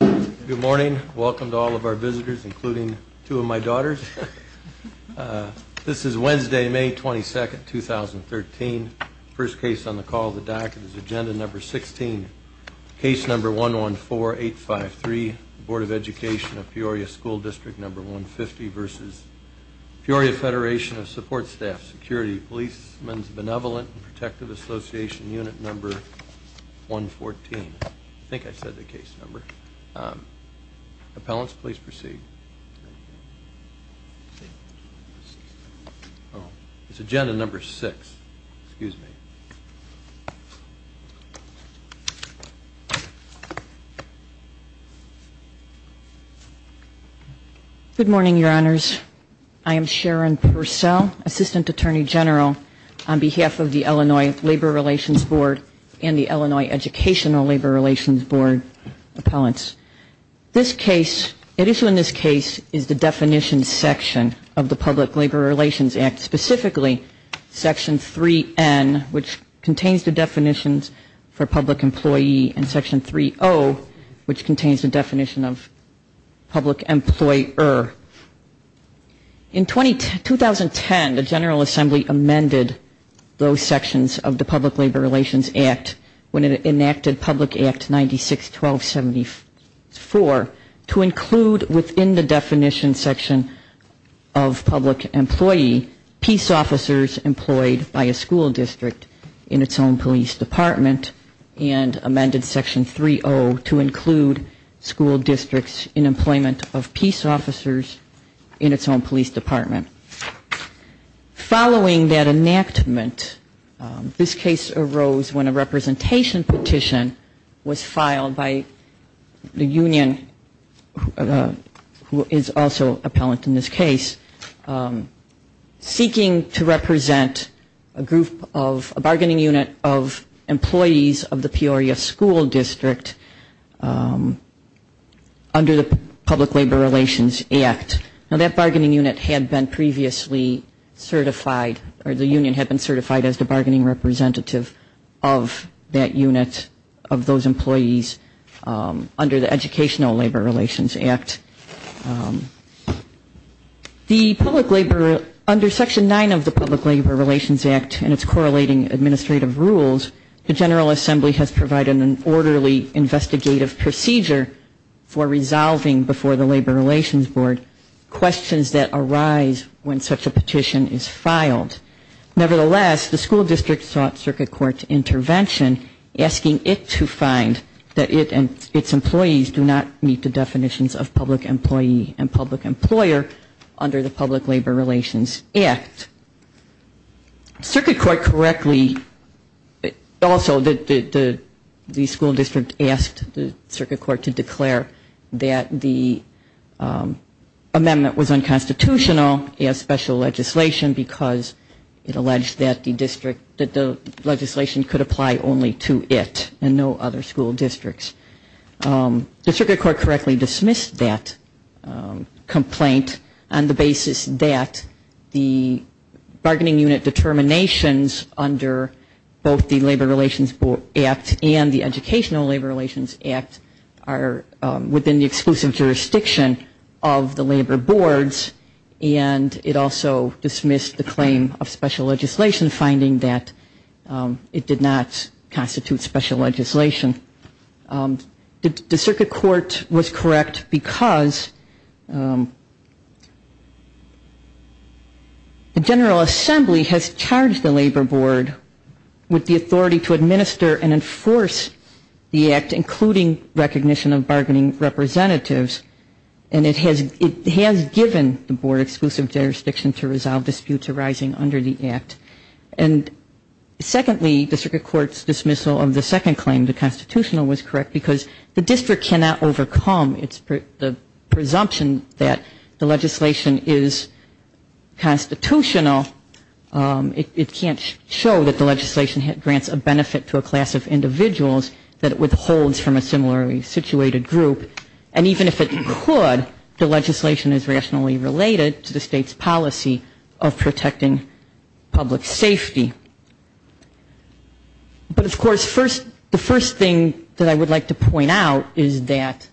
Good morning. Welcome to all of our visitors, including two of my daughters. This is Wednesday, May 22, 2013. The first case on the call of the docket is Agenda No. 16, Case No. 114853, Board of Education of Peoria School District No. 150 v. Peoria Federation of Support Staff, Security & Policemen's Benevolent & Appellants, please proceed. It's Agenda No. 6. Excuse me. Good morning, Your Honors. I am Sharon Purcell, Assistant Attorney General on behalf of the Illinois Labor Relations Board and the Illinois Educational Labor Relations Board Appellants. This case, at issue in this case, is the Definition Section of the Public Labor Relations Act, specifically Section 3N, which contains the definitions for public employee, and Section 3O, which contains the definition of public employer. In 2010, the General Assembly amended those sections of the Public Labor Relations Act when it enacted Public Act 96-1274 to include within the definition section of public employee, peace officers employed by a school district in its own police department, and amended Section 3O to include school districts in employment of peace officers in its own police department. Following that enactment, this case arose when a representation petition was filed by the union who is also appellant in this case, seeking to represent a group of, a bargaining unit of employees of the Peoria School District under the Public Labor Relations Act. Now that bargaining unit had been previously certified, or the union had been certified as the bargaining representative of that unit of those employees under the Educational Labor Relations Act. The public labor, under Section 9 of the Public Labor Relations Act and its correlating administrative rules, the General Assembly has provided an orderly investigative procedure for resolving before the Labor Relations Board questions that arise when such a petition is filed. Nevertheless, the school district sought circuit court intervention, asking it to find that it and its employees do not meet the definitions of public employee and public employer under the Public Labor Relations Act. Circuit court correctly, also the school district asked the circuit court to declare that the amendment was unconstitutional as special legislation, because it alleged that the district, that the legislation could apply only to it and no other school districts. The circuit court correctly dismissed that complaint on the basis that the bargaining unit determinations under both the Labor Relations Act and the Educational Labor Relations Act are within the exclusive jurisdiction of the labor boards, and it also dismissed the claim of special legislation, finding that it did not constitute special legislation. The General Assembly has charged the labor board with the authority to administer and enforce the act, including recognition of bargaining representatives, and it has given the board exclusive jurisdiction to resolve disputes arising under the act. And secondly, the circuit court's dismissal of the second claim, the third claim, that the legislation is constitutional, it can't show that the legislation grants a benefit to a class of individuals that it withholds from a similarly situated group, and even if it could, the legislation is rationally related to the state's policy of protecting public safety. But of course, the first thing that I would like to point out is that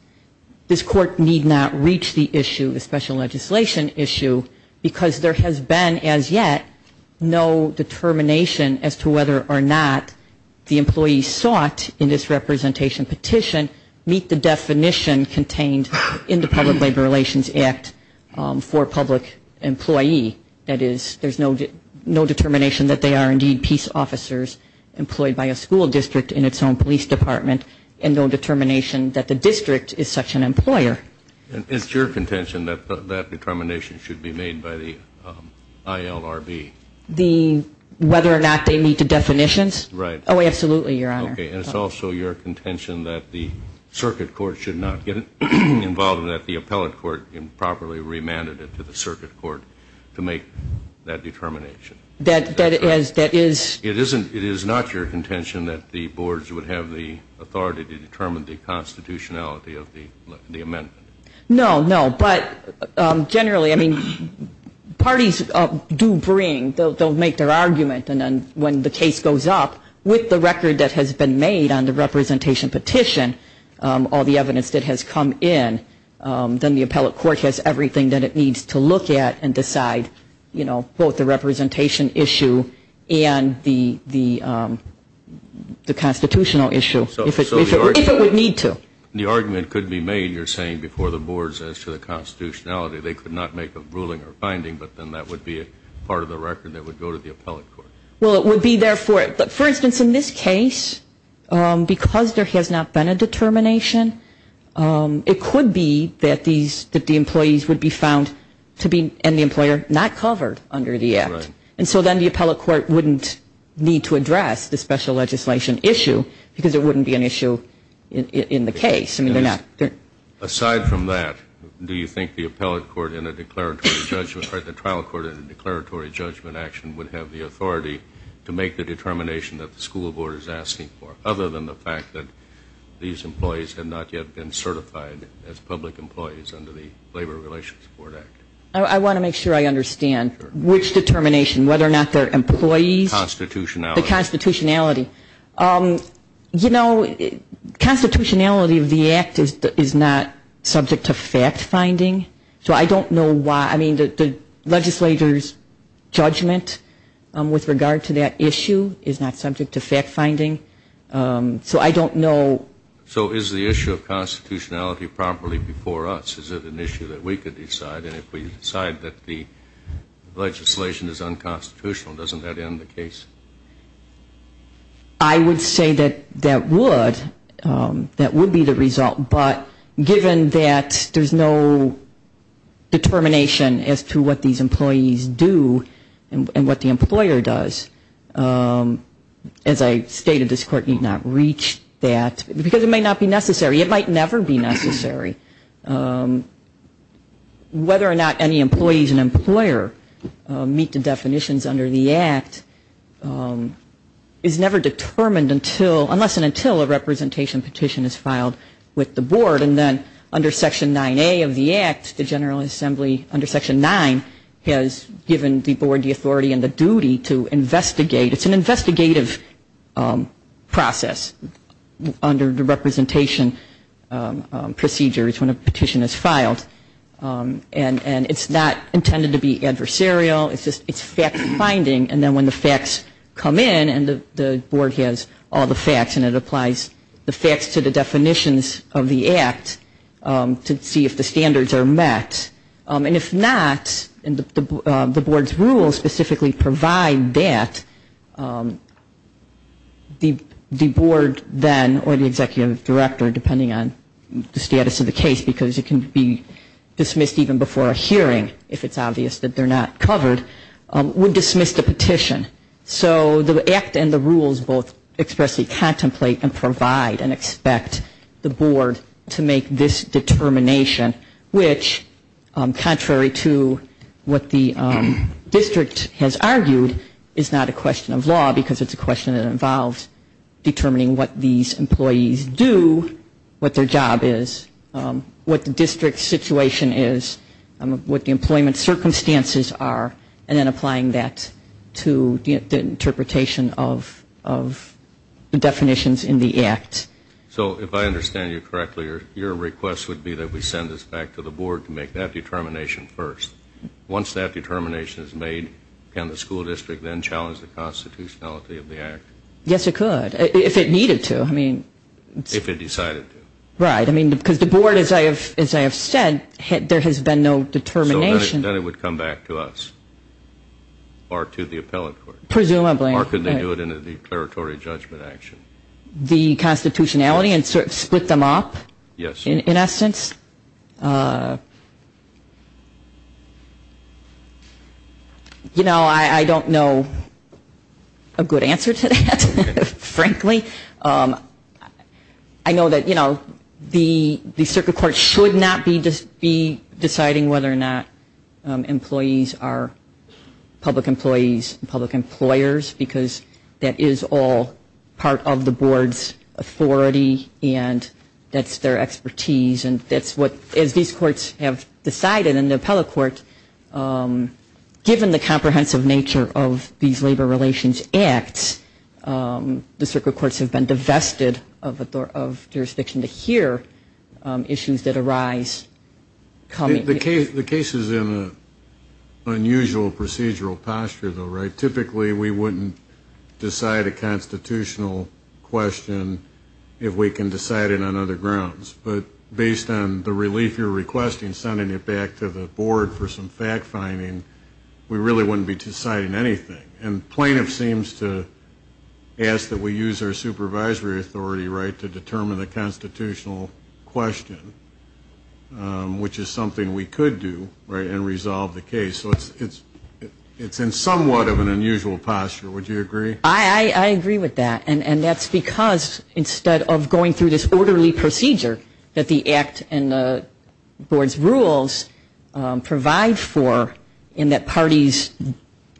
this court need not reach the issue of the special legislation issue, because there has been as yet no determination as to whether or not the employee sought in this representation petition meet the definition contained in the Public Labor Relations Act for public employee. That is, there's no determination that they are indeed peace officers employed by a school district in its own police department, and no determination that the district is such an employer. And it's also your contention that that determination should be made by the ILRB. The whether or not they meet the definitions? Right. Oh, absolutely, Your Honor. Okay, and it's also your contention that the circuit court should not get involved and that the appellate court can properly remand it to the circuit court to make that determination. That is... It is not your contention that the boards would have the authority to determine the constitutionality of the amendment. No, no. But generally, I mean, parties do bring, they'll make their argument, and then when the case goes up, with the record that has been made on the representation petition, all the evidence that has come in, then the appellate court has everything that it needs to look at and decide, you know, both the representation issue and the constitutional issue, if it would need to. The argument could be made, you're saying, before the boards as to the constitutionality. They could not make a ruling or finding, but then that would be a part of the record that would go to the appellate court. Well, it would be therefore, for instance, in this case, because there has not been a determination, it could be that the employees would be found to be, and the employer, not covered under the act. Right. And so then the appellate court wouldn't need to address the special legislation issue, because it wouldn't be an issue in the case. Aside from that, do you think the appellate court in a declaratory judgment, or the trial court in a declaratory judgment action would have the authority to make the determination that the school board is asking for, other than the fact that these employees have not yet been certified as public employees under the Labor Relations Board Act? I want to make sure I understand. Which determination, whether or not they're employees? Constitutionality. The constitutionality. You know, constitutionality of the act is not subject to fact-finding, so I don't know why. I mean, the legislature's judgment with regard to that issue is not subject to fact-finding, so I don't know. So is the issue of constitutionality properly before us? Is it an issue that we could decide? And if we decide that the legislation is unconstitutional, doesn't that end the case? I would say that that would. That would be the result. But given that there's no determination as to what these employees do and what the definition is, because it may not be necessary, it might never be necessary, whether or not any employees and employer meet the definitions under the act is never determined unless and until a representation petition is filed with the board. And then under Section 9A of the act, the General Assembly under Section 9 has given the board the authority and the duty to investigate. It's an investigative process under Section 9A. It's a representation procedure when a petition is filed. And it's not intended to be adversarial. It's fact-finding. And then when the facts come in, and the board has all the facts, and it applies the facts to the definitions of the act to see if the standards are met. And if not, and the board's rules specifically provide that, the board then, or the executive board, then has the authority to investigate. And the executive director, depending on the status of the case, because it can be dismissed even before a hearing, if it's obvious that they're not covered, would dismiss the petition. So the act and the rules both expressly contemplate and provide and expect the board to make this determination, which, contrary to what the district has argued, is not a question of law, because it's a question that involves determining what these employees do, what their job is, what the district's situation is, what the employment circumstances are, and then applying that to the interpretation of the definitions in the act. So if I understand you correctly, your request would be that we send this back to the board to make that determination first. Once that determination is made, can the school district then challenge the constitutionality of the act? Yes, it could. If it needed to. If it decided to. Right. Because the board, as I have said, there has been no determination. So then it would come back to us, or to the appellate court. Presumably. Or could they do it in a declaratory judgment action? The constitutionality and sort of split them up? Yes. In essence? You know, I don't know a good answer to that, frankly. I know that, you know, the circuit court should not be deciding whether or not employees are public employers, because that is all part of the board's authority, and that's their expertise, and that's what, as these courts have decided, and the appellate court, given the comprehensive nature of these labor relations acts, the circuit courts have been divested of jurisdiction to hear issues that arise. The case is in an unusual procedural posture, though, right? Typically we wouldn't decide a constitutional question if we can decide it on other grounds. But based on the relief you're requesting, sending it back to the board for some fact-finding, we really wouldn't be deciding anything. And plaintiff seems to ask that we use our supervisory authority, right, to determine the constitutional question. Which is something we could do, right, and resolve the case. So it's in somewhat of an unusual posture. Would you agree? I agree with that. And that's because instead of going through this orderly procedure that the act and the board's rules provide for, in that parties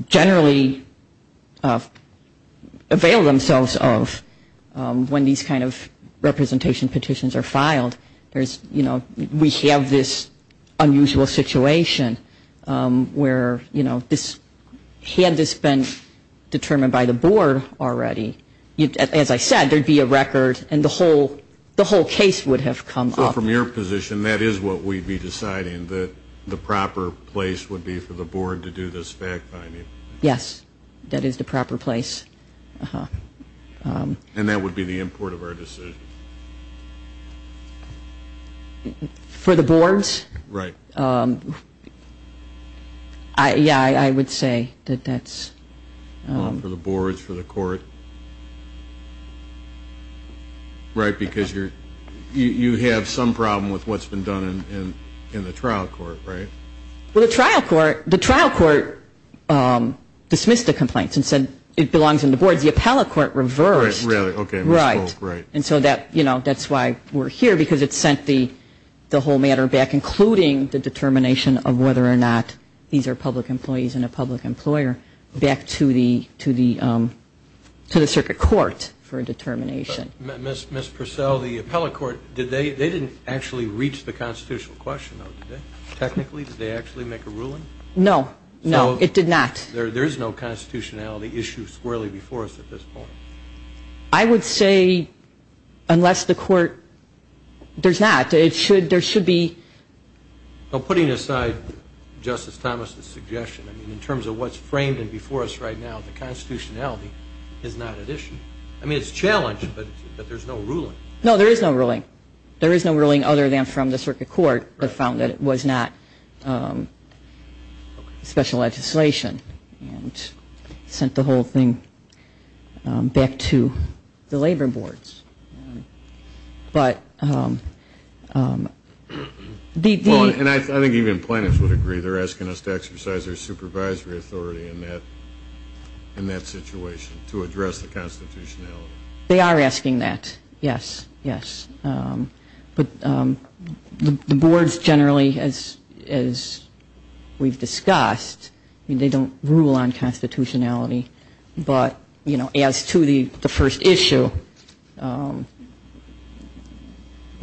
generally avail themselves of when these kind of representation petitions are filed, there's, you know, we have a lot of this unusual situation where, you know, this, had this been determined by the board already, as I said, there would be a record and the whole case would have come up. So from your position, that is what we'd be deciding, that the proper place would be for the board to do this fact-finding? Yes. That is the proper place. And that would be the import of our decision? For the board's? Right. Yeah, I would say that that's... For the board's, for the court? Right, because you're, you have some problem with what's been done in the trial court, right? Well, the trial court, the trial court dismissed the complaints and said it belongs in the board's. The appellate court reversed. Right, really, okay, we spoke, right. And so that, you know, that's why we're here, because it sent the whole matter back, including the determination of whether or not these are public employees and a public employer, back to the circuit court for a determination. Ms. Purcell, the appellate court, did they, they didn't actually reach the constitutional question, though, did they? Technically, did they actually make a ruling? No, no, it did not. There is no constitutionality issue squarely before us at this point? I would say, unless the court, there's not. It should, there should be... Well, putting aside Justice Thomas's suggestion, I mean, in terms of what's framed and before us right now, the constitutionality is not at issue. I mean, it's challenged, but there's no ruling. No, there is no ruling. There is no ruling other than from the circuit court that found that it was not special legislation. And sent the whole thing back to the labor boards. But... Well, and I think even plaintiffs would agree, they're asking us to exercise our supervisory authority in that, in that situation, to address the constitutionality. They are asking that, yes, yes. But the boards generally, as we've discussed, I mean, they don't rule on that. They don't rule on constitutionality. But, you know, as to the first issue, we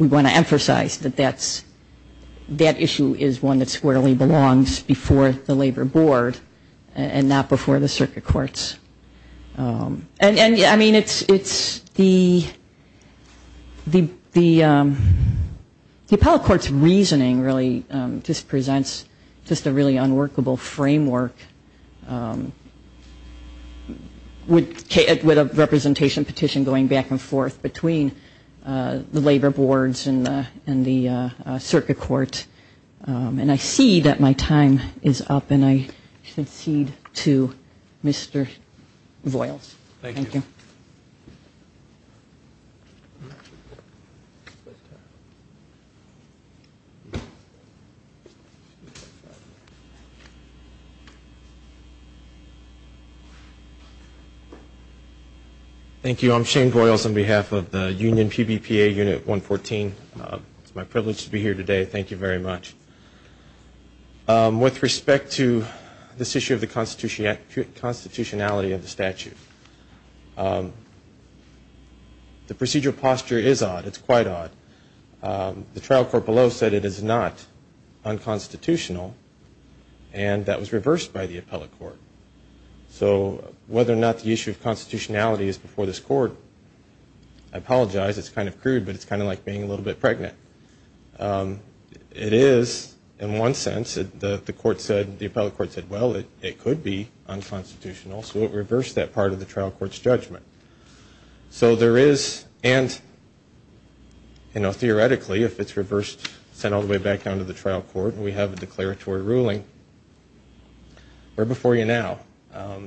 want to emphasize that that's, that issue is one that squarely belongs before the labor board and not before the circuit courts. And, I mean, it's the, the, the appellate court's reasoning really just presents just a really unworkable framework for what, with a representation petition going back and forth between the labor boards and the circuit court. And I see that my time is up, and I concede to Mr. Voyles. Thank you. Thank you. I'm Shane Voyles on behalf of the Union PBPA Unit 114. It's my privilege to be here today. Thank you very much. With respect to this issue of the constitutionality of the statute, the procedural posture is odd. It's quite odd. The trial court below said it is not unconstitutional, and that was reversed by the appellate court. So whether or not the issue of constitutionality is before this court, I apologize. It's kind of crude, but it's kind of like being a little bit pregnant. It is, in one sense. The court said, the appellate court said, well, it could be unconstitutional, so it reversed that part of the trial court's judgment. So there is, and, you know, theoretically, if it's reversed, sent all the way back down to the trial court, and we have a declaratory ruling, we're before you now.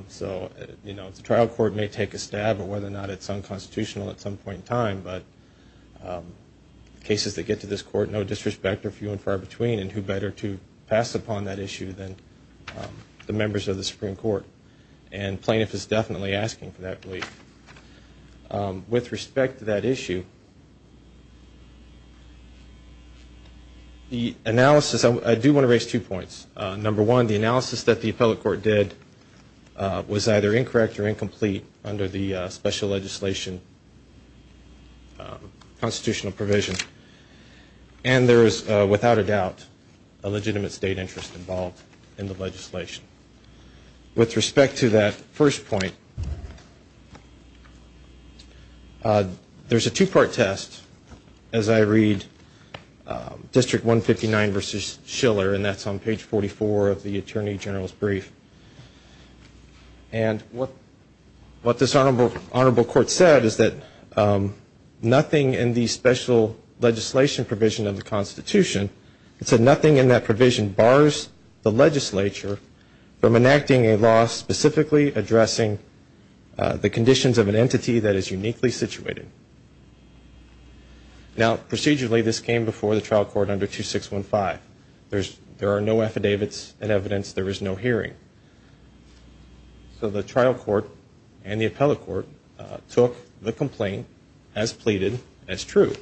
So, you know, the trial court may take a stab at whether or not it's unconstitutional at some point in time, but cases that get to this court, no disrespect, are few and far between, and who better to pass upon that issue than the members of the Supreme Court. And plaintiff is definitely asking for that relief. With respect to that issue, the analysis, I do want to raise two points. Number one, the analysis that the appellate court did was either incorrect or incomplete under the special legislation constitutional provision, and there is, without a doubt, a legitimate state interest involved in the legislation. With respect to that first point, there's a two-part test, as I read District 159 v. Schiller, and that's on page 44, of the Attorney General's brief, and what this Honorable Court said is that nothing in the special legislation provision of the Constitution, it said nothing in that provision bars the legislature from enacting a law specifically addressing the conditions of an entity that is uniquely situated. Now, procedurally, this came before the trial court under 2615. That's an evidence there is no hearing, so the trial court and the appellate court took the complaint as pleaded as true,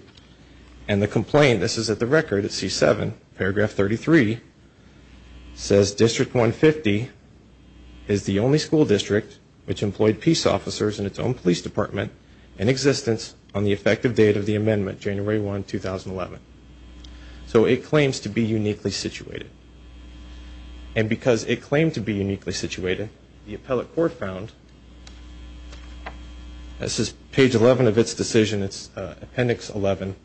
and the complaint, this is at the record at C-7, paragraph 33, says, District 150 is the only school district which employed peace officers in its own police department in existence on the effective date of the amendment, January 1, 2011, so it claims to be uniquely situated. And because it claimed to be uniquely situated, the appellate court found, this is page 11 of its decision, it's appendix 11,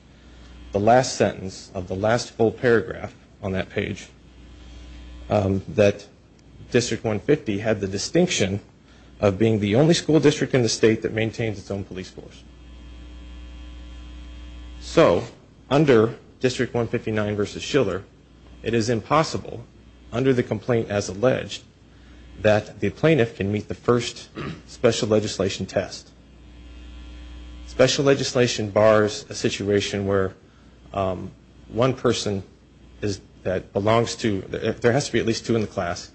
the last sentence of the last full paragraph on that page, that District 150 had the distinction of being the only school district in the state that maintains its own police force. So, under District 159 v. Schiller, it is impossible, under the complaint as alleged, that the plaintiff can meet the first special legislation test. Special legislation bars a situation where one person that belongs to, there has to be at least two in the class,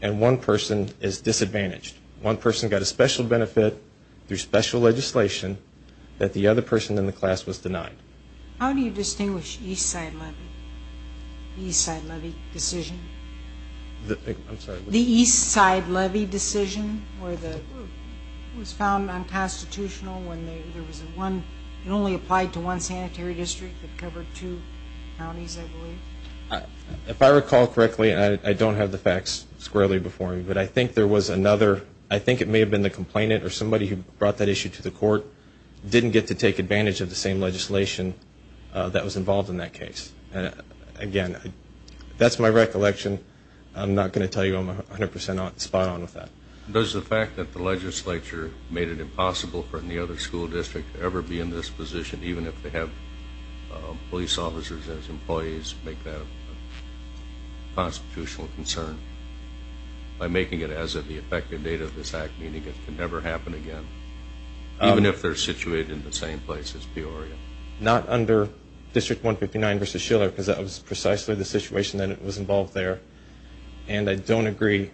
and one person is disadvantaged. One person got a special benefit through special legislation that the other person in the class was denied. How do you distinguish Eastside Levy, the Eastside Levy decision? The Eastside Levy decision was found unconstitutional when there was one, it only applied to one sanitary district that covered two counties, I believe. If I recall correctly, I don't have the facts squarely before me, but I think there was another, I think it may have been the complainant, or somebody who brought that issue to the court, didn't get to take advantage of the same legislation that was involved in that case. Again, that's my recollection, I'm not going to tell you I'm 100% spot on with that. Does the fact that the legislature made it impossible for any other school district to ever be in this position, even if they have police officers as employees, make that a constitutional concern? By making it as of the effective date of this act, meaning it can never happen again? Even if they're situated in the same place as Peoria? Not under District 159 v. Schiller, because that was precisely the situation that was involved there, and I don't agree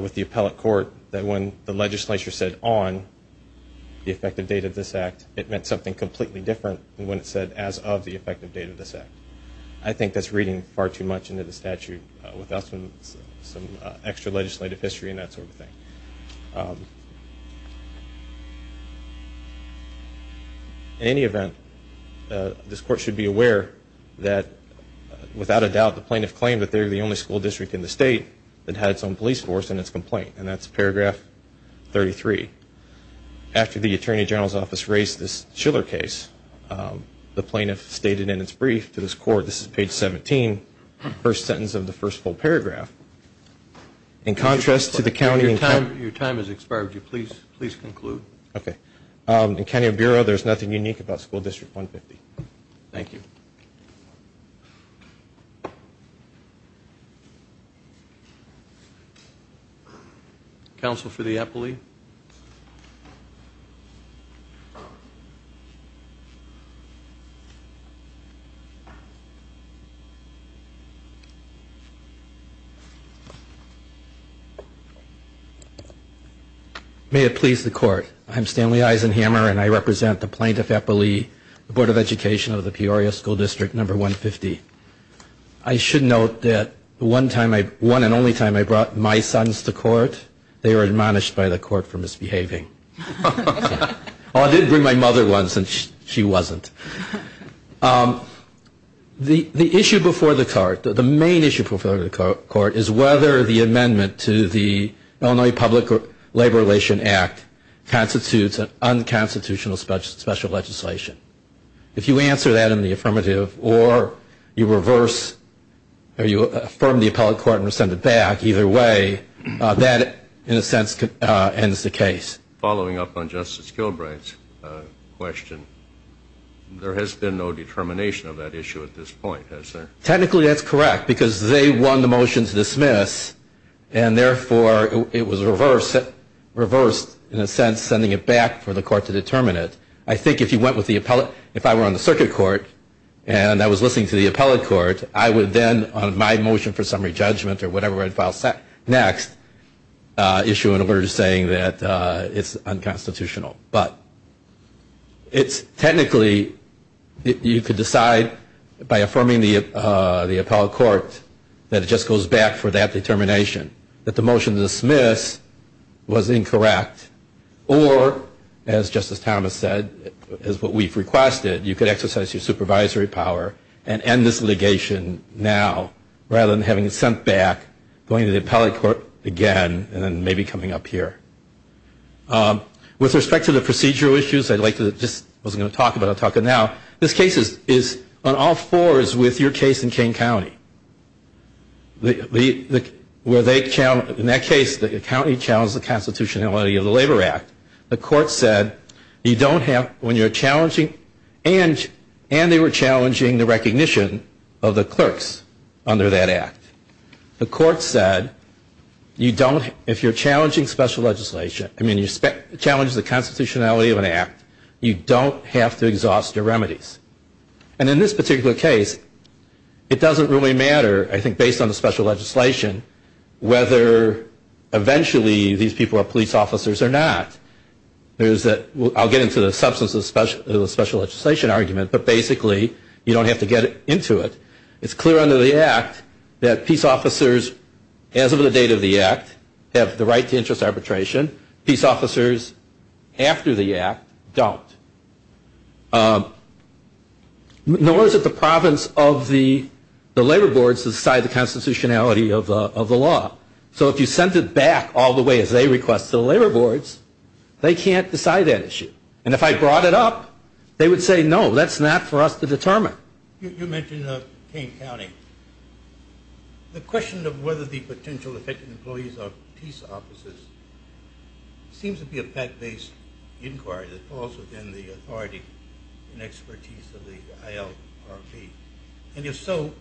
with the appellate court that when the legislature said on the effective date of this act, it meant something completely different than when it said as of the effective date of this act. I think that's reading far too much into the statute without some extra legislative history and that sort of thing. In any event, this court should be aware that, without a doubt, the plaintiff claimed that they're the only school district in the state that had its own police force in its complaint, and that's paragraph 33. After the Attorney General's Office raised this Schiller case, the plaintiff stated in its brief to this court, this is page 17, first sentence of the first full paragraph, in contrast to the county... In County Bureau, there's nothing unique about School District 150. Counsel for the appellee? May it please the court. I'm Stanley Eisenhammer, and I represent the plaintiff appellee, the Board of Education of the Peoria School District 150. I should note that the one and only time I brought my sons to court, they were admonished by the court for misbehaving. Oh, I did bring my mother once, and she wasn't. The issue before the court, the main issue before the court, is whether the amendment to the Illinois Public Labor Relations Act constitutes an unconstitutional special legislation. If you answer that in the affirmative, or you reverse, or you affirm the appellate court and rescind it back, either way, that, in a sense, ends the case. Following up on Justice Kilbright's question, there has been no determination of that issue at this point. Technically, that's correct, because they won the motion to dismiss, and therefore, it was reversed, in a sense, sending it back for the court to determine it. I think if you went with the appellate, if I were on the circuit court, and I was listening to the appellate court, I would then, on my motion for summary judgment, or whatever I'd file next, issue an alert saying that it's unconstitutional. But, it's technically, you could decide by affirming the appellate court and rescinding the appellate court, that it just goes back for that determination, that the motion to dismiss was incorrect. Or, as Justice Thomas said, as what we've requested, you could exercise your supervisory power and end this litigation now, rather than having it sent back, going to the appellate court again, and then maybe coming up here. With respect to the procedural issues, I'd like to just, I wasn't going to talk about it, I'll talk about it now. This case is on all fours with your case in Kane County. In that case, the county challenged the constitutionality of the Labor Act. The court said, you don't have, when you're challenging, and they were challenging the recognition of the clerks under that act. The court said, if you're challenging special legislation, I mean, you challenge the constitutionality of an act, you don't have to exhaust your remedies. And in this particular case, it doesn't really matter, I think, based on the special legislation, whether eventually these people are police officers or not. I'll get into the substance of the special legislation argument, but basically, you don't have to get into it. It's clear under the act that peace officers, as of the date of the act, have the right to interest arbitration. Peace officers after the act don't. Nor is it the province of the labor boards that decide the constitutionality of the law. So if you sent it back all the way as they request to the labor boards, they can't decide that issue. And if I brought it up, they would say, no, that's not for us to determine. You mentioned Kane County. The question of whether the potential affected employees are peace officers seems to be a fact-based inquiry that falls within the authority and expertise of the ILRP. And if so,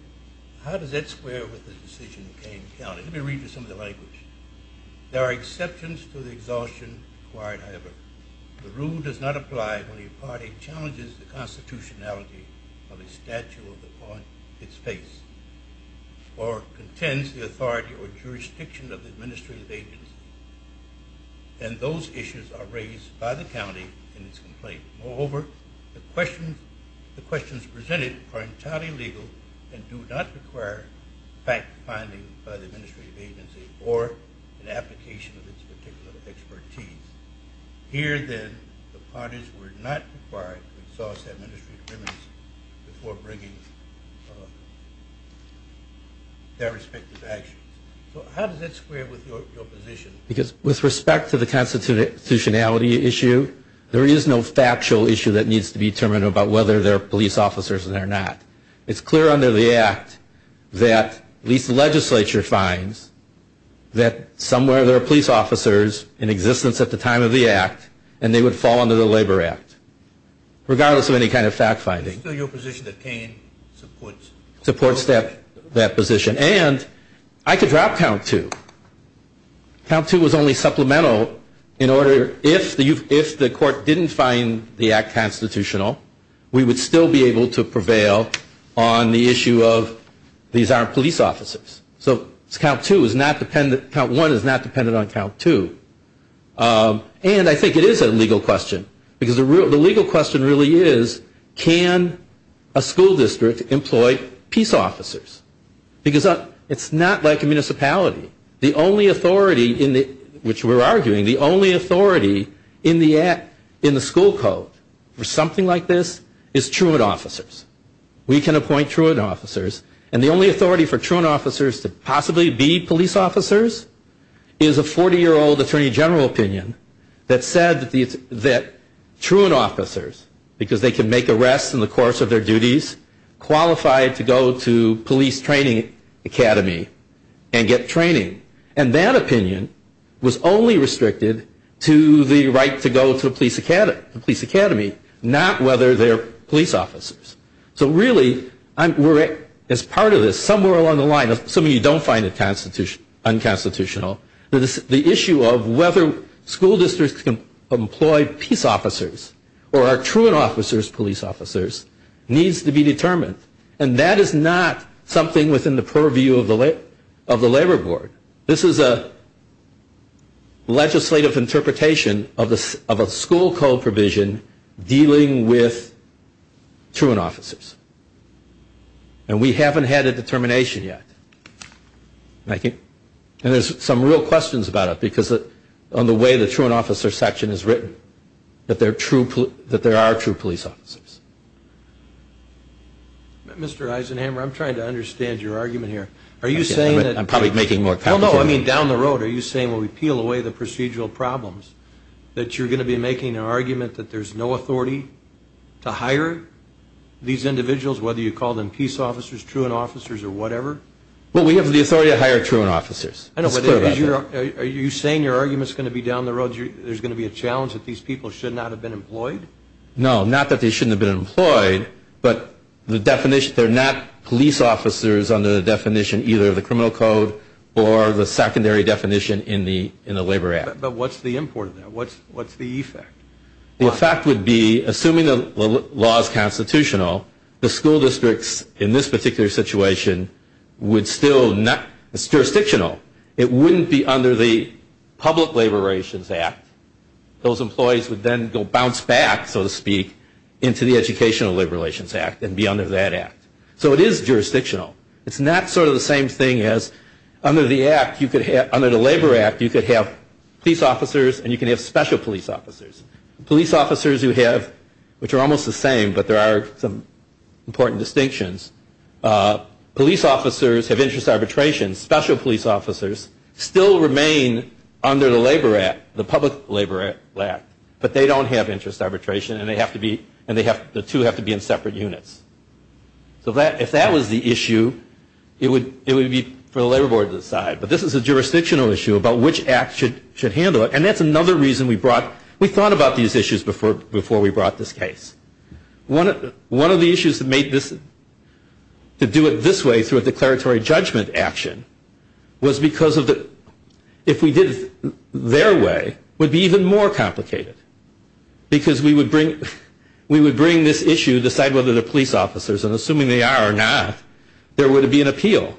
how does that square with the decision of Kane County? Let me read you some of the language. There are exceptions to the exhaustion required, however. The rule does not apply when a party challenges the constitutionality of a statute upon its face or contends the authority or jurisdiction of the administrative agency and those issues are raised by the county in its complaint. Moreover, the questions presented are entirely legal and do not require fact-finding by the administrative agency or an application of its particular expertise. Here, then, the parties were not required to exhaust the administrative limits before bringing their respective actions. So how does that square with your position? Because with respect to the constitutionality issue, there is no factual issue that needs to be determined about whether they're police officers or not. It's clear under the Act that at least the legislature finds that somewhere there are police officers in existence at the time of the Act and they would fall under the Labor Act, regardless of any kind of fact-finding. Is it still your position that Kean supports that position? And I could drop Count 2. Count 2 was only supplemental in order, if the Court didn't find the Act constitutional, we would still be able to prevail on the issue of these aren't police officers. So Count 1 is not dependent on Count 2. And I think it is a legal question, because the legal question really is, can a school district employ peace officers? Because it's not like a municipality. The only authority in the school code for something like this is truant officers. We can appoint truant officers. And the only authority for truant officers to possibly be police officers is a 40-year-old attorney general opinion that said that truant officers, because they can make arrests in the course of their duties, qualified to go to police training academy and get training. And that opinion was only restricted to the right to go to a police academy, not whether they're police officers. So really, as part of this, somewhere along the line, assuming you don't find it unconstitutional, the issue of whether school districts can employ peace officers or are truant officers police officers needs to be determined. And that is not something within the purview of the Labor Board. This is a legislative interpretation of a school code provision dealing with truant officers. And we haven't had a determination yet. And there's some real questions about it, because of the way the truant officer section is written, that there are true police officers. Mr. Eisenhammer, I'm trying to understand your argument here. Are you saying that we peel away the procedural problems, that you're going to be making an argument that there's no authority to hire these individuals, whether you call them peace officers, truant officers, or whatever? Well, we have the authority to hire truant officers. Are you saying your argument is going to be down the road, there's going to be a challenge that these people should not have been employed? No, not that they shouldn't have been employed, but they're not police officers under the definition either of the criminal code or the secondary definition in the Labor Act. But what's the import of that? What's the effect? The effect would be, assuming the law is constitutional, the school districts in this particular situation would still not – it's jurisdictional. It wouldn't be under the Public Labor Relations Act. Those employees would then go bounce back, so to speak, into the Educational Labor Relations Act and be under that act. So it is jurisdictional. It's not sort of the same thing as under the Labor Act, you could have peace officers and you can have special police officers. Police officers who have – which are almost the same, but there are some important distinctions. Police officers have interest arbitration. Special police officers still remain under the Labor Act, the Public Labor Act, but they don't have interest arbitration and they have to be – the two have to be in separate units. So if that was the issue, it would be for the Labor Board to decide. But this is a jurisdictional issue about which act should handle it, and that's another reason we brought – we thought about these issues before we brought this case. One of the issues that made this – to do it this way through a declaratory judgment action was because of the – if we did it their way, it would be even more complicated because we would bring – we would bring this issue, decide whether they're police officers, and assuming they are or not, there would be an appeal.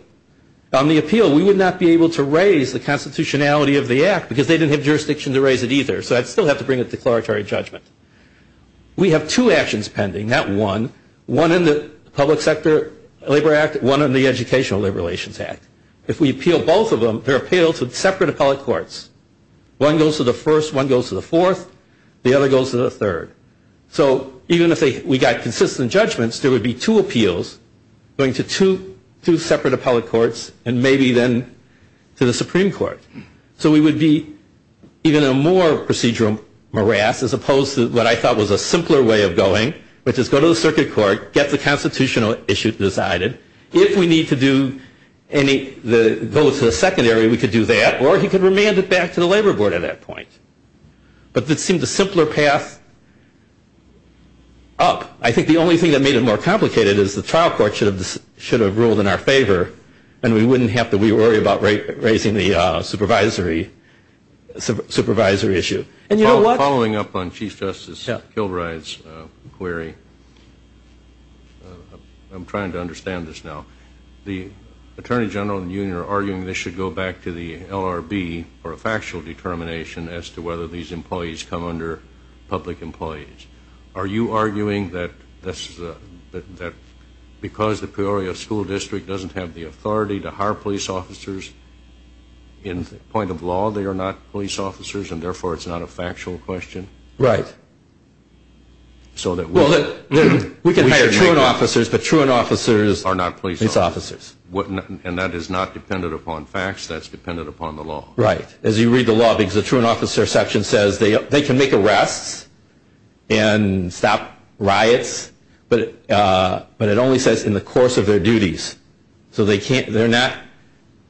On the appeal, we would not be able to raise the constitutionality of the act because they didn't have jurisdiction to raise it either, so I'd still have to bring a declaratory judgment. We have two actions pending, not one. One in the Public Sector Labor Act, one in the Educational Labor Relations Act. If we appeal both of them, they're appealed to separate appellate courts. One goes to the first, one goes to the fourth, the other goes to the third. So even if we got consistent judgments, there would be two appeals going to two separate appellate courts and maybe then to the Supreme Court. So we would be even in a more procedural morass as opposed to what I thought was a simpler way of going, which is go to the circuit court, get the constitutional issue decided. If we need to do any – go to the secondary, we could do that, or he could remand it back to the Labor Board at that point. But it seemed a simpler path up. I think the only thing that made it more complicated is the trial court should have ruled in our favor and we wouldn't have to worry about raising the supervisory issue. And you know what? Following up on Chief Justice Kilbride's query, I'm trying to understand this now. The Attorney General and you are arguing they should go back to the LRB for a factual determination as to whether these employees come under public employees. Are you arguing that because the Peoria School District doesn't have the authority to hire police officers, in point of law they are not police officers and therefore it's not a factual question? Right. So that we – Well, we can hire truant officers, but truant officers – Are not police officers. Are not police officers. And that is not dependent upon facts. That's dependent upon the law. Right. As you read the law, because the truant officer section says they can make arrests and stop riots, but it only says in the course of their duties. So they can't – they're not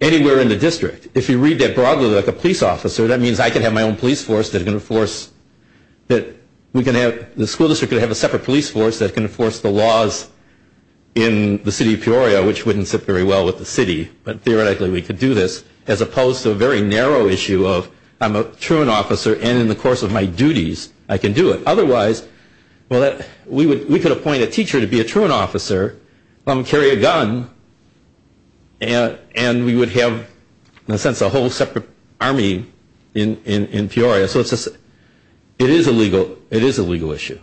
anywhere in the district. If you read that broadly like a police officer, that means I can have my own police force that can enforce – that we can have – the school district can have a separate police force that can enforce the laws in the city of Peoria, which wouldn't sit very well with the city. But theoretically we could do this as opposed to a very narrow issue of I'm a truant officer and in the course of my duties I can do it. Otherwise, we could appoint a teacher to be a truant officer and carry a gun and we would have in a sense a whole separate army in Peoria. So it is a legal issue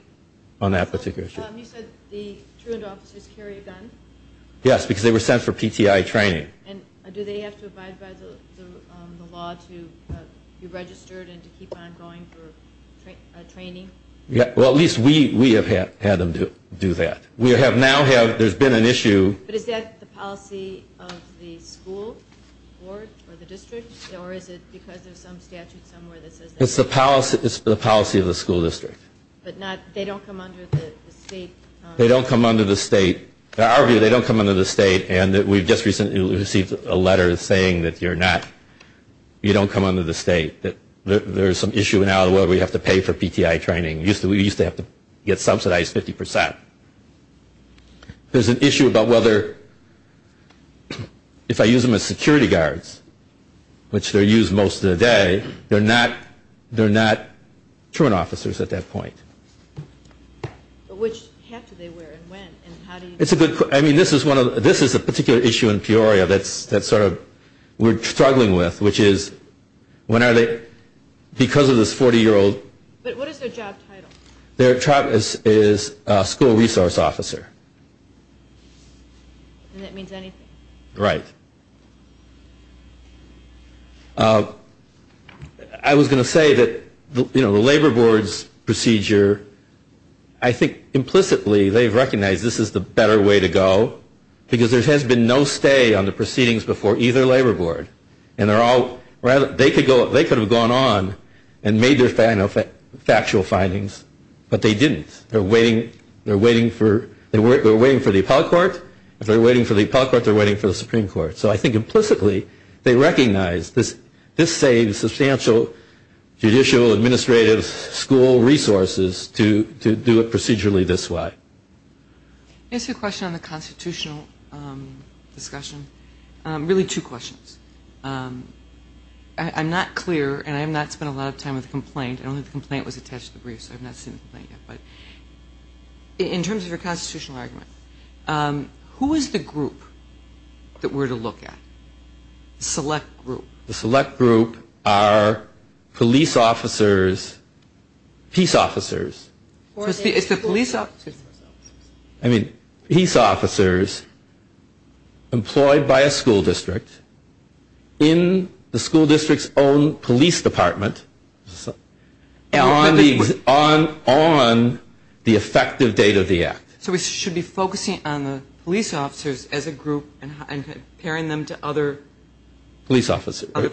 on that particular issue. You said the truant officers carry a gun? Yes, because they were sent for PTI training. And do they have to abide by the law to be registered and to keep on going for training? Well, at least we have had them do that. We have now had – there's been an issue. But is that the policy of the school board or the district or is it because there's some statute somewhere that says that? It's the policy of the school district. But not – they don't come under the state? In our view they don't come under the state and we've just recently received a letter saying that you're not – you don't come under the state. There's some issue now where we have to pay for PTI training. We used to have to get subsidized 50%. There's an issue about whether – if I use them as security guards, which they're used most of the day, they're not truant officers at that point. But which hat do they wear and when? And how do you – It's a good – I mean, this is one of – this is a particular issue in Peoria that's sort of – we're struggling with, which is when are they – because of this 40-year-old – But what is their job title? Their job is school resource officer. And that means anything? Right. I was going to say that, you know, the labor board's procedure, I think implicitly they've recognized this is the better way to go because there has been no stay on the proceedings before either labor board. And they're all – they could have gone on and made their factual findings, but they didn't. They're waiting for – they're waiting for the appellate court. If they're waiting for the appellate court, they're waiting for the Supreme Court. So I think implicitly they recognize this saves substantial judicial, administrative, school resources to do it procedurally this way. Can I ask you a question on the constitutional discussion? Really two questions. I'm not clear, and I have not spent a lot of time with the complaint. I don't think the complaint was attached to the brief, so I've not seen the complaint yet. In terms of your constitutional argument, who is the group that we're to look at, the select group? The select group are police officers, peace officers. It's the police officers? I mean, peace officers employed by a school district in the school district's own police department on the effective date of the act. So we should be focusing on the police officers as a group and comparing them to other police officers. Or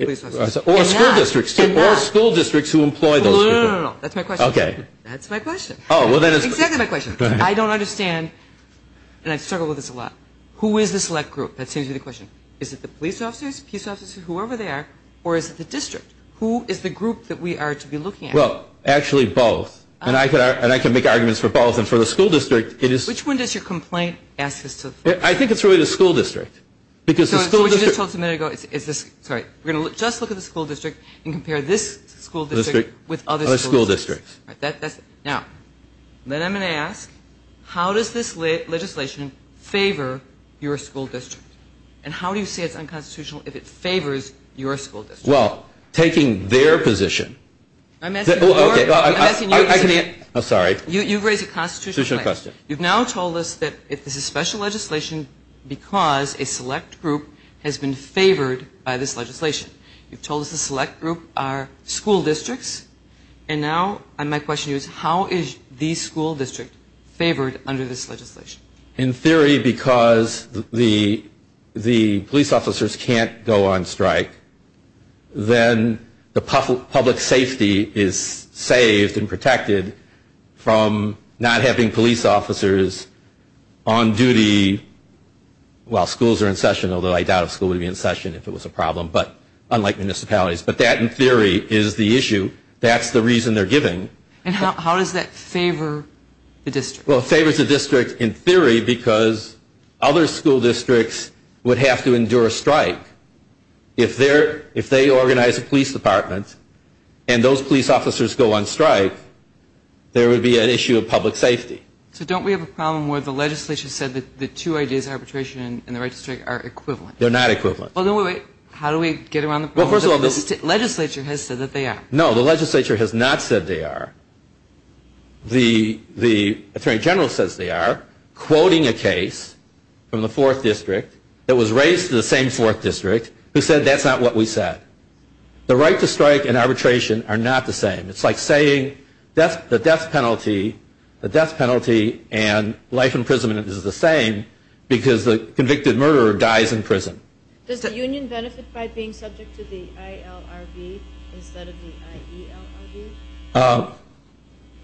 school districts, too. Or school districts who employ those people. No, no, no, no, no, no. That's my question. Okay. That's my question. Exactly my question. I don't understand – and I struggle with this a lot. Who is the select group? That seems to be the question. Is it the police officers, peace officers, whoever they are, or is it the district? Who is the group that we are to be looking at? Well, actually, both. And I can make arguments for both. And for the school district, it is – Which one does your complaint ask us to look at? I think it's really the school district. Because the school district – So what you just told us a minute ago is this – sorry. We're going to just look at the school district and compare this school district with other school districts. Other school districts. Now, then I'm going to ask, how does this legislation favor your school district? And how do you say it's unconstitutional if it favors your school district? Well, taking their position – I'm asking you – I'm sorry. You've raised a constitutional question. You've now told us that this is special legislation because a select group has been favored by this legislation. You've told us the select group are school districts. And now my question to you is, how is the school district favored under this legislation? In theory, because the police officers can't go on strike, then the public safety is saved and protected from not having police officers on duty while schools are in session. Although I doubt a school would be in session if it was a problem, but unlike municipalities. But that, in theory, is the issue. That's the reason they're giving. And how does that favor the district? Well, it favors the district in theory because other school districts would have to endure a strike. If they organize a police department and those police officers go on strike, there would be an issue of public safety. So don't we have a problem where the legislature said that the two ideas of arbitration and the right to strike are equivalent? They're not equivalent. How do we get around the problem? Well, first of all, the legislature has said that they are. No, the legislature has not said they are. The Attorney General says they are, quoting a case from the 4th District that was raised in the same 4th District, who said that's not what we said. The right to strike and arbitration are not the same. It's like saying the death penalty and life imprisonment is the same because the convicted murderer dies in prison. Does the union benefit by being subject to the ILRB instead of the IELRB?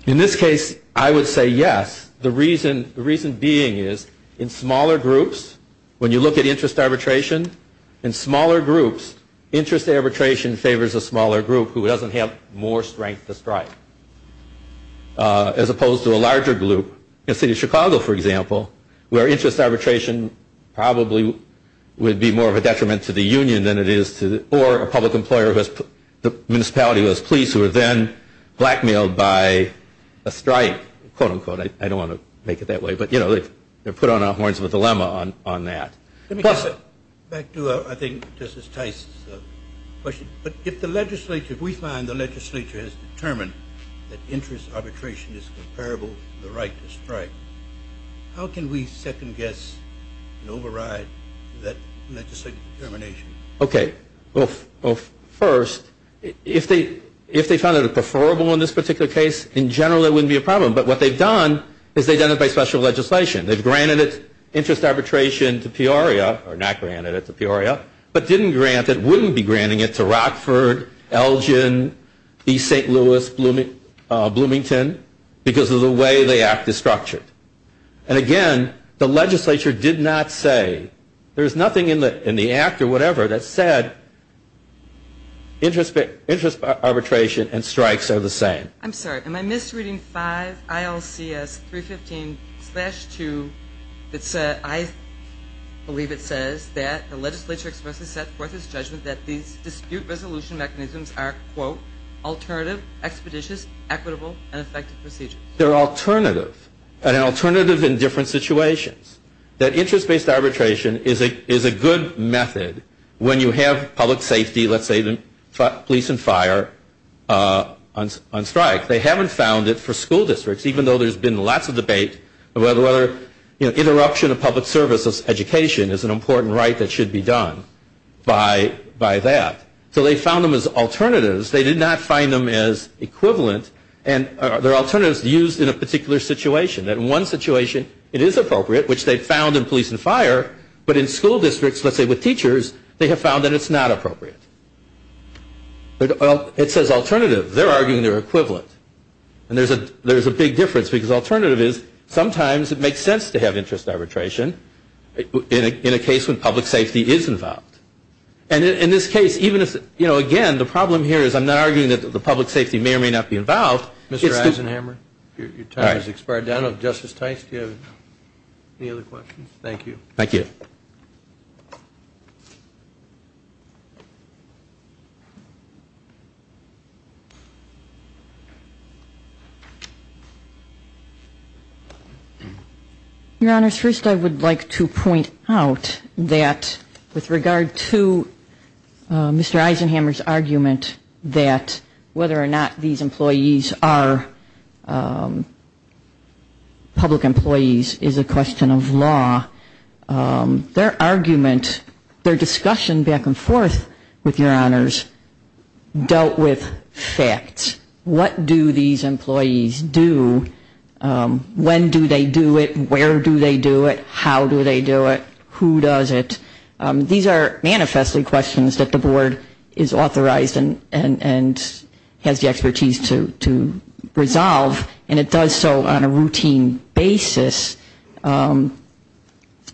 In this case, I would say yes. The reason being is in smaller groups, when you look at interest arbitration, in smaller groups interest arbitration favors a smaller group who doesn't have more strength to strike, as opposed to a larger group. In the city of Chicago, for example, where interest arbitration probably would be more of a detriment to the union than it is to, or a public employer who has, the municipality who has police who are then blackmailed by a strike, quote, unquote. I don't want to make it that way. But, you know, they're put on our horns with a dilemma on that. Back to, I think, Justice Tice's question. But if the legislature, if we find the legislature has determined that interest arbitration is comparable to the right to strike, how can we second guess and override that legislative determination? Okay. Well, first, if they found it preferable in this particular case, in general it wouldn't be a problem. But what they've done is they've done it by special legislation. They've granted it, interest arbitration to Peoria, or not granted it to Peoria, but didn't grant it, wouldn't be granting it to Rockford, Elgin, East St. Louis, Bloomington because of the way the act is structured. And again, the legislature did not say, there's nothing in the act or whatever that said interest arbitration and strikes are the same. I'm sorry. Am I misreading 5 ILCS 315-2 that said, I believe it says, that the legislature expressly set forth its judgment that these dispute resolution mechanisms are, quote, alternative, expeditious, equitable, and effective procedures. They're alternative, and alternative in different situations. That interest-based arbitration is a good method when you have public safety, let's say the police and fire, on strike. They haven't found it for school districts, even though there's been lots of debate, whether interruption of public services education is an important right that should be done by that. So they found them as alternatives. They did not find them as equivalent. And they're alternatives used in a particular situation. In one situation, it is appropriate, which they found in police and fire. But in school districts, let's say with teachers, they have found that it's not appropriate. It says alternative. They're arguing they're equivalent. And there's a big difference, because alternative is sometimes it makes sense to have interest arbitration in a case when public safety is involved. And in this case, even if, you know, again, the problem here is I'm not arguing that the public safety may or may not be involved. Mr. Eisenhammer, your time has expired. I don't know if Justice Tice, do you have any other questions? Thank you. Thank you. Thank you. Your Honors, first I would like to point out that with regard to Mr. Eisenhammer's argument that whether or not these employees are public employees is a question of law. Their argument, their discussion back and forth with your Honors dealt with facts. What do these employees do? When do they do it? Where do they do it? How do they do it? Who does it? These are manifestly questions that the Board is authorized and has the expertise to resolve. And it does so on a routine basis.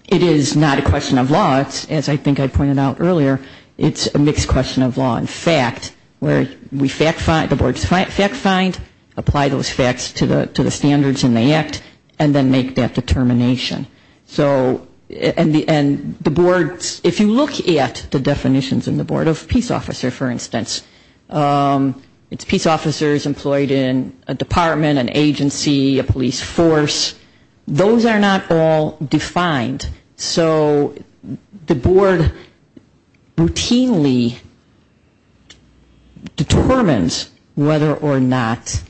It is not a question of law. As I think I pointed out earlier, it's a mixed question of law and fact where we fact find, the Board fact find, apply those facts to the standards in the Act, and then make that determination. So, and the Board, if you look at the definitions in the Board of Peace Officer, for instance, it's peace officers employed in a department, an agency, a police force. Those are not all defined. So the Board routinely determines whether or not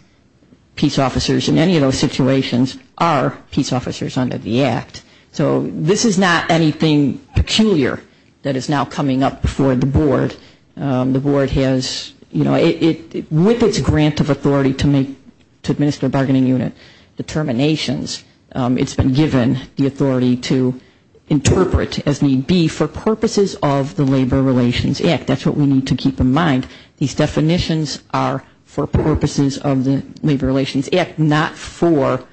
peace officers in any of those situations are peace officers under the Act. So this is not anything peculiar that is now coming up before the Board. The Board has, you know, with its grant of authority to administer a bargaining unit, determinations, it's been given the authority to interpret as need be for purposes of the Labor Relations Act. That's what we need to keep in mind. These definitions are for purposes of the Labor Relations Act, not for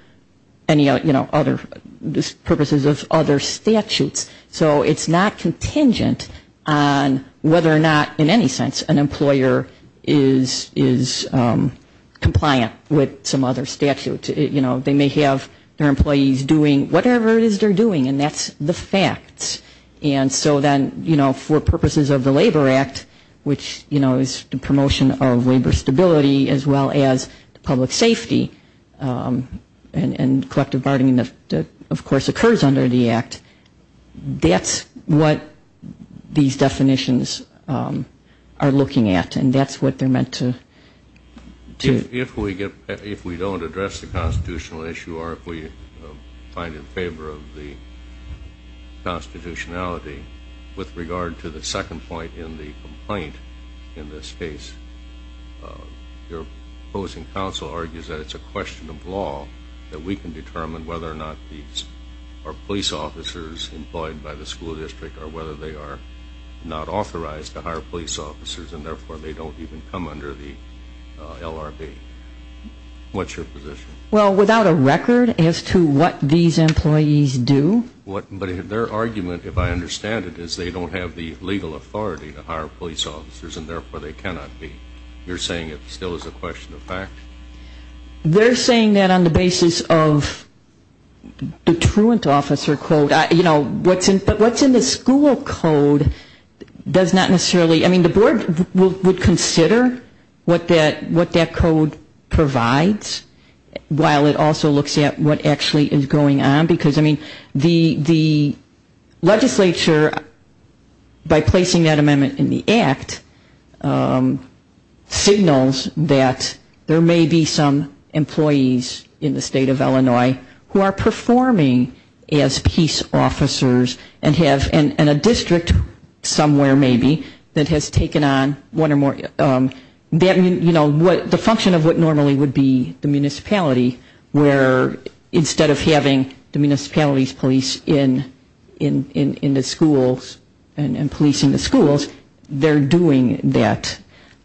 purposes of other statutes. So it's not contingent on whether or not, in any sense, an employer is compliant with some other statute. You know, they may have their employees doing whatever it is they're doing, and that's the facts. And so then, you know, for purposes of the Labor Act, which, you know, is the promotion of labor stability, as well as public safety and collective bargaining that, of course, occurs under the Act, that's what these definitions are looking at, and that's what they're meant to do. If we don't address the constitutional issue or if we find it in favor of the constitutionality, with regard to the second point in the complaint in this case, your opposing counsel argues that it's a question of law that we can determine whether or not these are police officers employed by the school district or whether they are not authorized to hire police officers and therefore they don't even come under the LRB. What's your position? Well, without a record as to what these employees do. But their argument, if I understand it, is they don't have the legal authority to hire police officers and therefore they cannot be. You're saying it still is a question of fact? They're saying that on the basis of the truant officer code. You know, what's in the school code does not necessarily, I mean, the board would consider what that code provides while it also looks at what actually is going on. Because, I mean, the legislature, by placing that amendment in the act, signals that there may be some employees in the state of Illinois who are performing as peace officers and a district somewhere maybe that has taken on one or more, you know, the function of what normally would be the municipality where instead of having the municipality's police in the schools and policing the schools, they're doing that.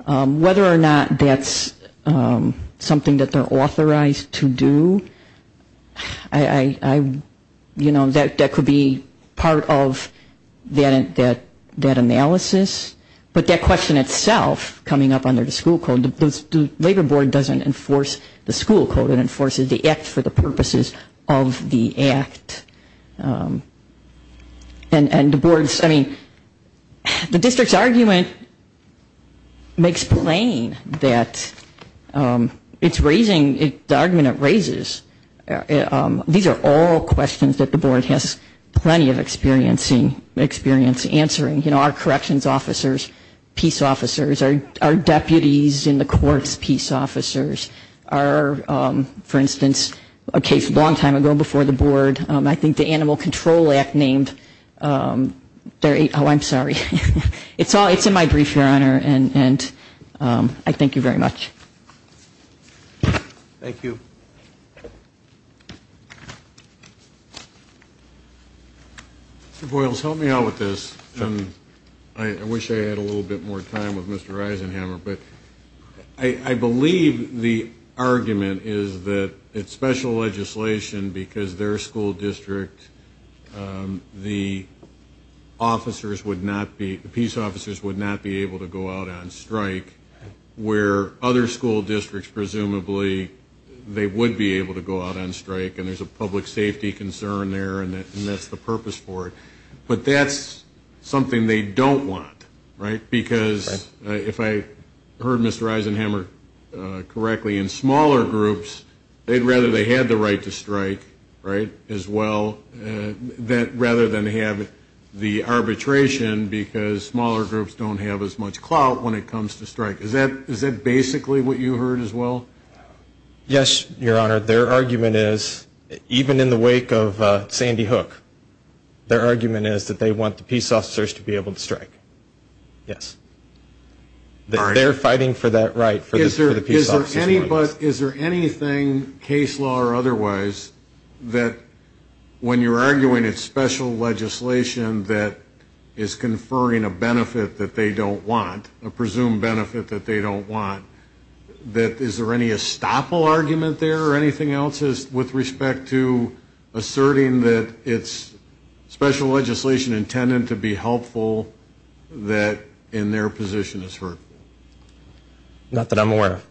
Whether or not that's something that they're authorized to do, you know, that could be part of that analysis. But that question itself coming up under the school code, I mean, the labor board doesn't enforce the school code. It enforces the act for the purposes of the act. And the board's, I mean, the district's argument makes plain that it's raising, the argument it raises, these are all questions that the board has plenty of experience answering. You know, our corrections officers, peace officers, our deputies in the courts, peace officers, are, for instance, a case a long time ago before the board. I think the Animal Control Act named, oh, I'm sorry. It's in my brief, Your Honor, and I thank you very much. Thank you. Thank you. Mr. Boyles, help me out with this. I wish I had a little bit more time with Mr. Eisenhammer, but I believe the argument is that it's special legislation because their school district, the officers would not be, the peace officers would not be able to go out on strike where other school districts presumably they would be able to go out on strike and there's a public safety concern there and that's the purpose for it. But that's something they don't want, right, because if I heard Mr. Eisenhammer correctly, in smaller groups they'd rather they had the right to strike, right, as well, rather than have the arbitration because smaller groups don't have as much clout when it comes to strike. Is that basically what you heard as well? Yes, Your Honor. Their argument is, even in the wake of Sandy Hook, their argument is that they want the peace officers to be able to strike, yes. They're fighting for that right for the peace officers. Is there anything, case law or otherwise, that when you're arguing it's special legislation that is conferring a benefit that they don't want, a presumed benefit that they don't want, that is there any estoppel argument there or anything else with respect to asserting that it's special legislation intended to be helpful that in their position is hurtful? Not that I'm aware of,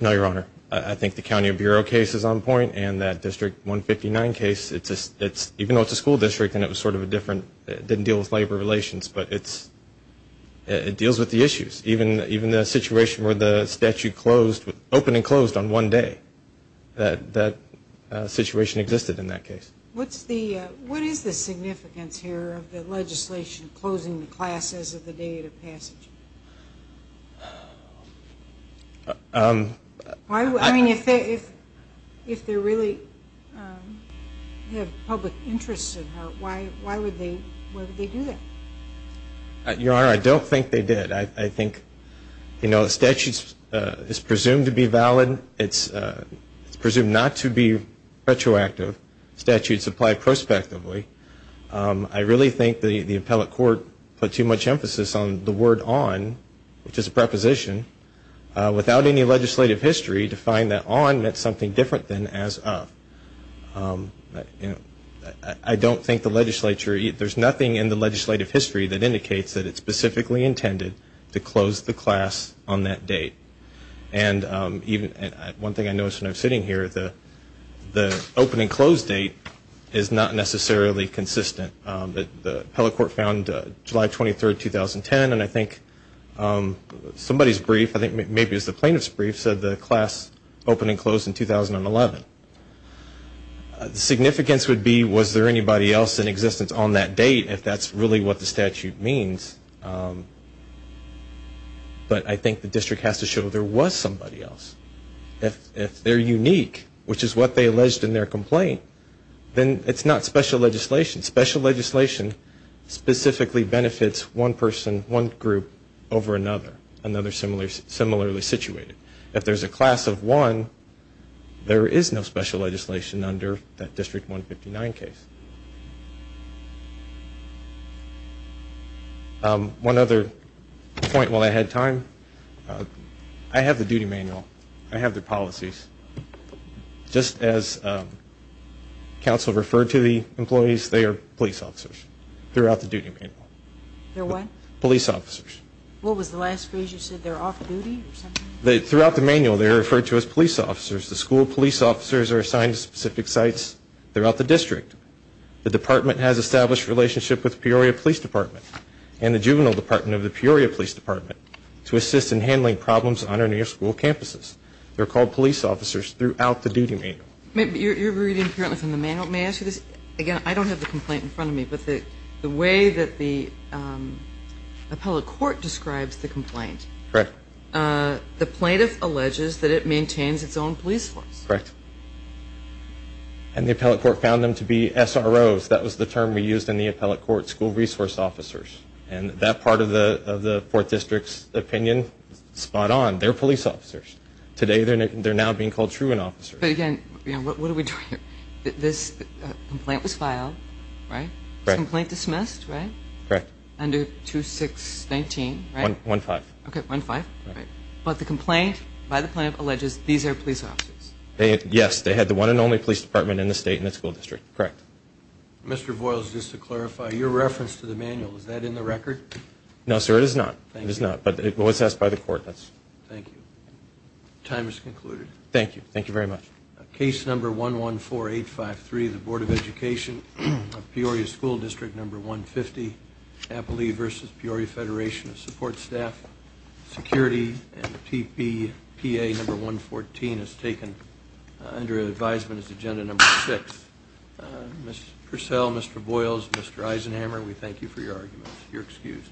no, Your Honor. I think the County Bureau case is on point and that District 159 case, even though it's a school district and it was sort of a different, it didn't deal with labor relations, but it deals with the issues. Even the situation where the statute closed, opened and closed on one day, that situation existed in that case. What is the significance here of the legislation closing the class as of the date of passage? I mean, if they really have public interest in it, why would they do that? Your Honor, I don't think they did. I think, you know, the statute is presumed to be valid. It's presumed not to be retroactive. Statutes apply prospectively. I really think the appellate court put too much emphasis on the word on which is a preposition, without any legislative history, to find that on meant something different than as of. I don't think the legislature, there's nothing in the legislative history that indicates that it's specifically intended to close the class on that date. And one thing I noticed when I was sitting here, the open and close date is not necessarily consistent. The appellate court found July 23, 2010, and I think somebody's brief, I think maybe it was the plaintiff's brief, said the class opened and closed in 2011. The significance would be was there anybody else in existence on that date, if that's really what the statute means. But I think the district has to show there was somebody else. If they're unique, which is what they alleged in their complaint, then it's not special legislation. Special legislation specifically benefits one person, one group over another, another similarly situated. If there's a class of one, there is no special legislation under that District 159 case. One other point while I had time, I have the duty manual. I have the policies. Just as counsel referred to the employees, they are police officers throughout the duty manual. They're what? Police officers. What was the last phrase you said? They're off duty or something? Throughout the manual, they're referred to as police officers. The school police officers are assigned to specific sites throughout the district. The department has established a relationship with Peoria Police Department and the juvenile department of the Peoria Police Department to assist in handling problems on our near school campuses. They're called police officers throughout the duty manual. You're reading apparently from the manual. May I ask you this? Again, I don't have the complaint in front of me, but the way that the appellate court describes the complaint. Correct. The plaintiff alleges that it maintains its own police force. Correct. And the appellate court found them to be SROs. That was the term we used in the appellate court, school resource officers. And that part of the 4th District's opinion is spot on. They're police officers. Today they're now being called truant officers. But again, what are we doing here? This complaint was filed, right? This complaint dismissed, right? Correct. Under 2619, right? 115. Okay, 115. But the complaint by the plaintiff alleges these are police officers. Yes, they had the one and only police department in the state and the school district. Correct. Mr. Voiles, just to clarify, your reference to the manual, is that in the record? No, sir, it is not. It is not. But it was asked by the court. Thank you. Time is concluded. Thank you. Thank you very much. Case number 114853, the Board of Education, Peoria School District number 150, Appalachia versus Peoria Federation of Support Staff, Security and TPPA number 114 is taken under advisement as agenda number six. Ms. Purcell, Mr. Voiles, Mr. Eisenhammer, we thank you for your arguments. You're excused.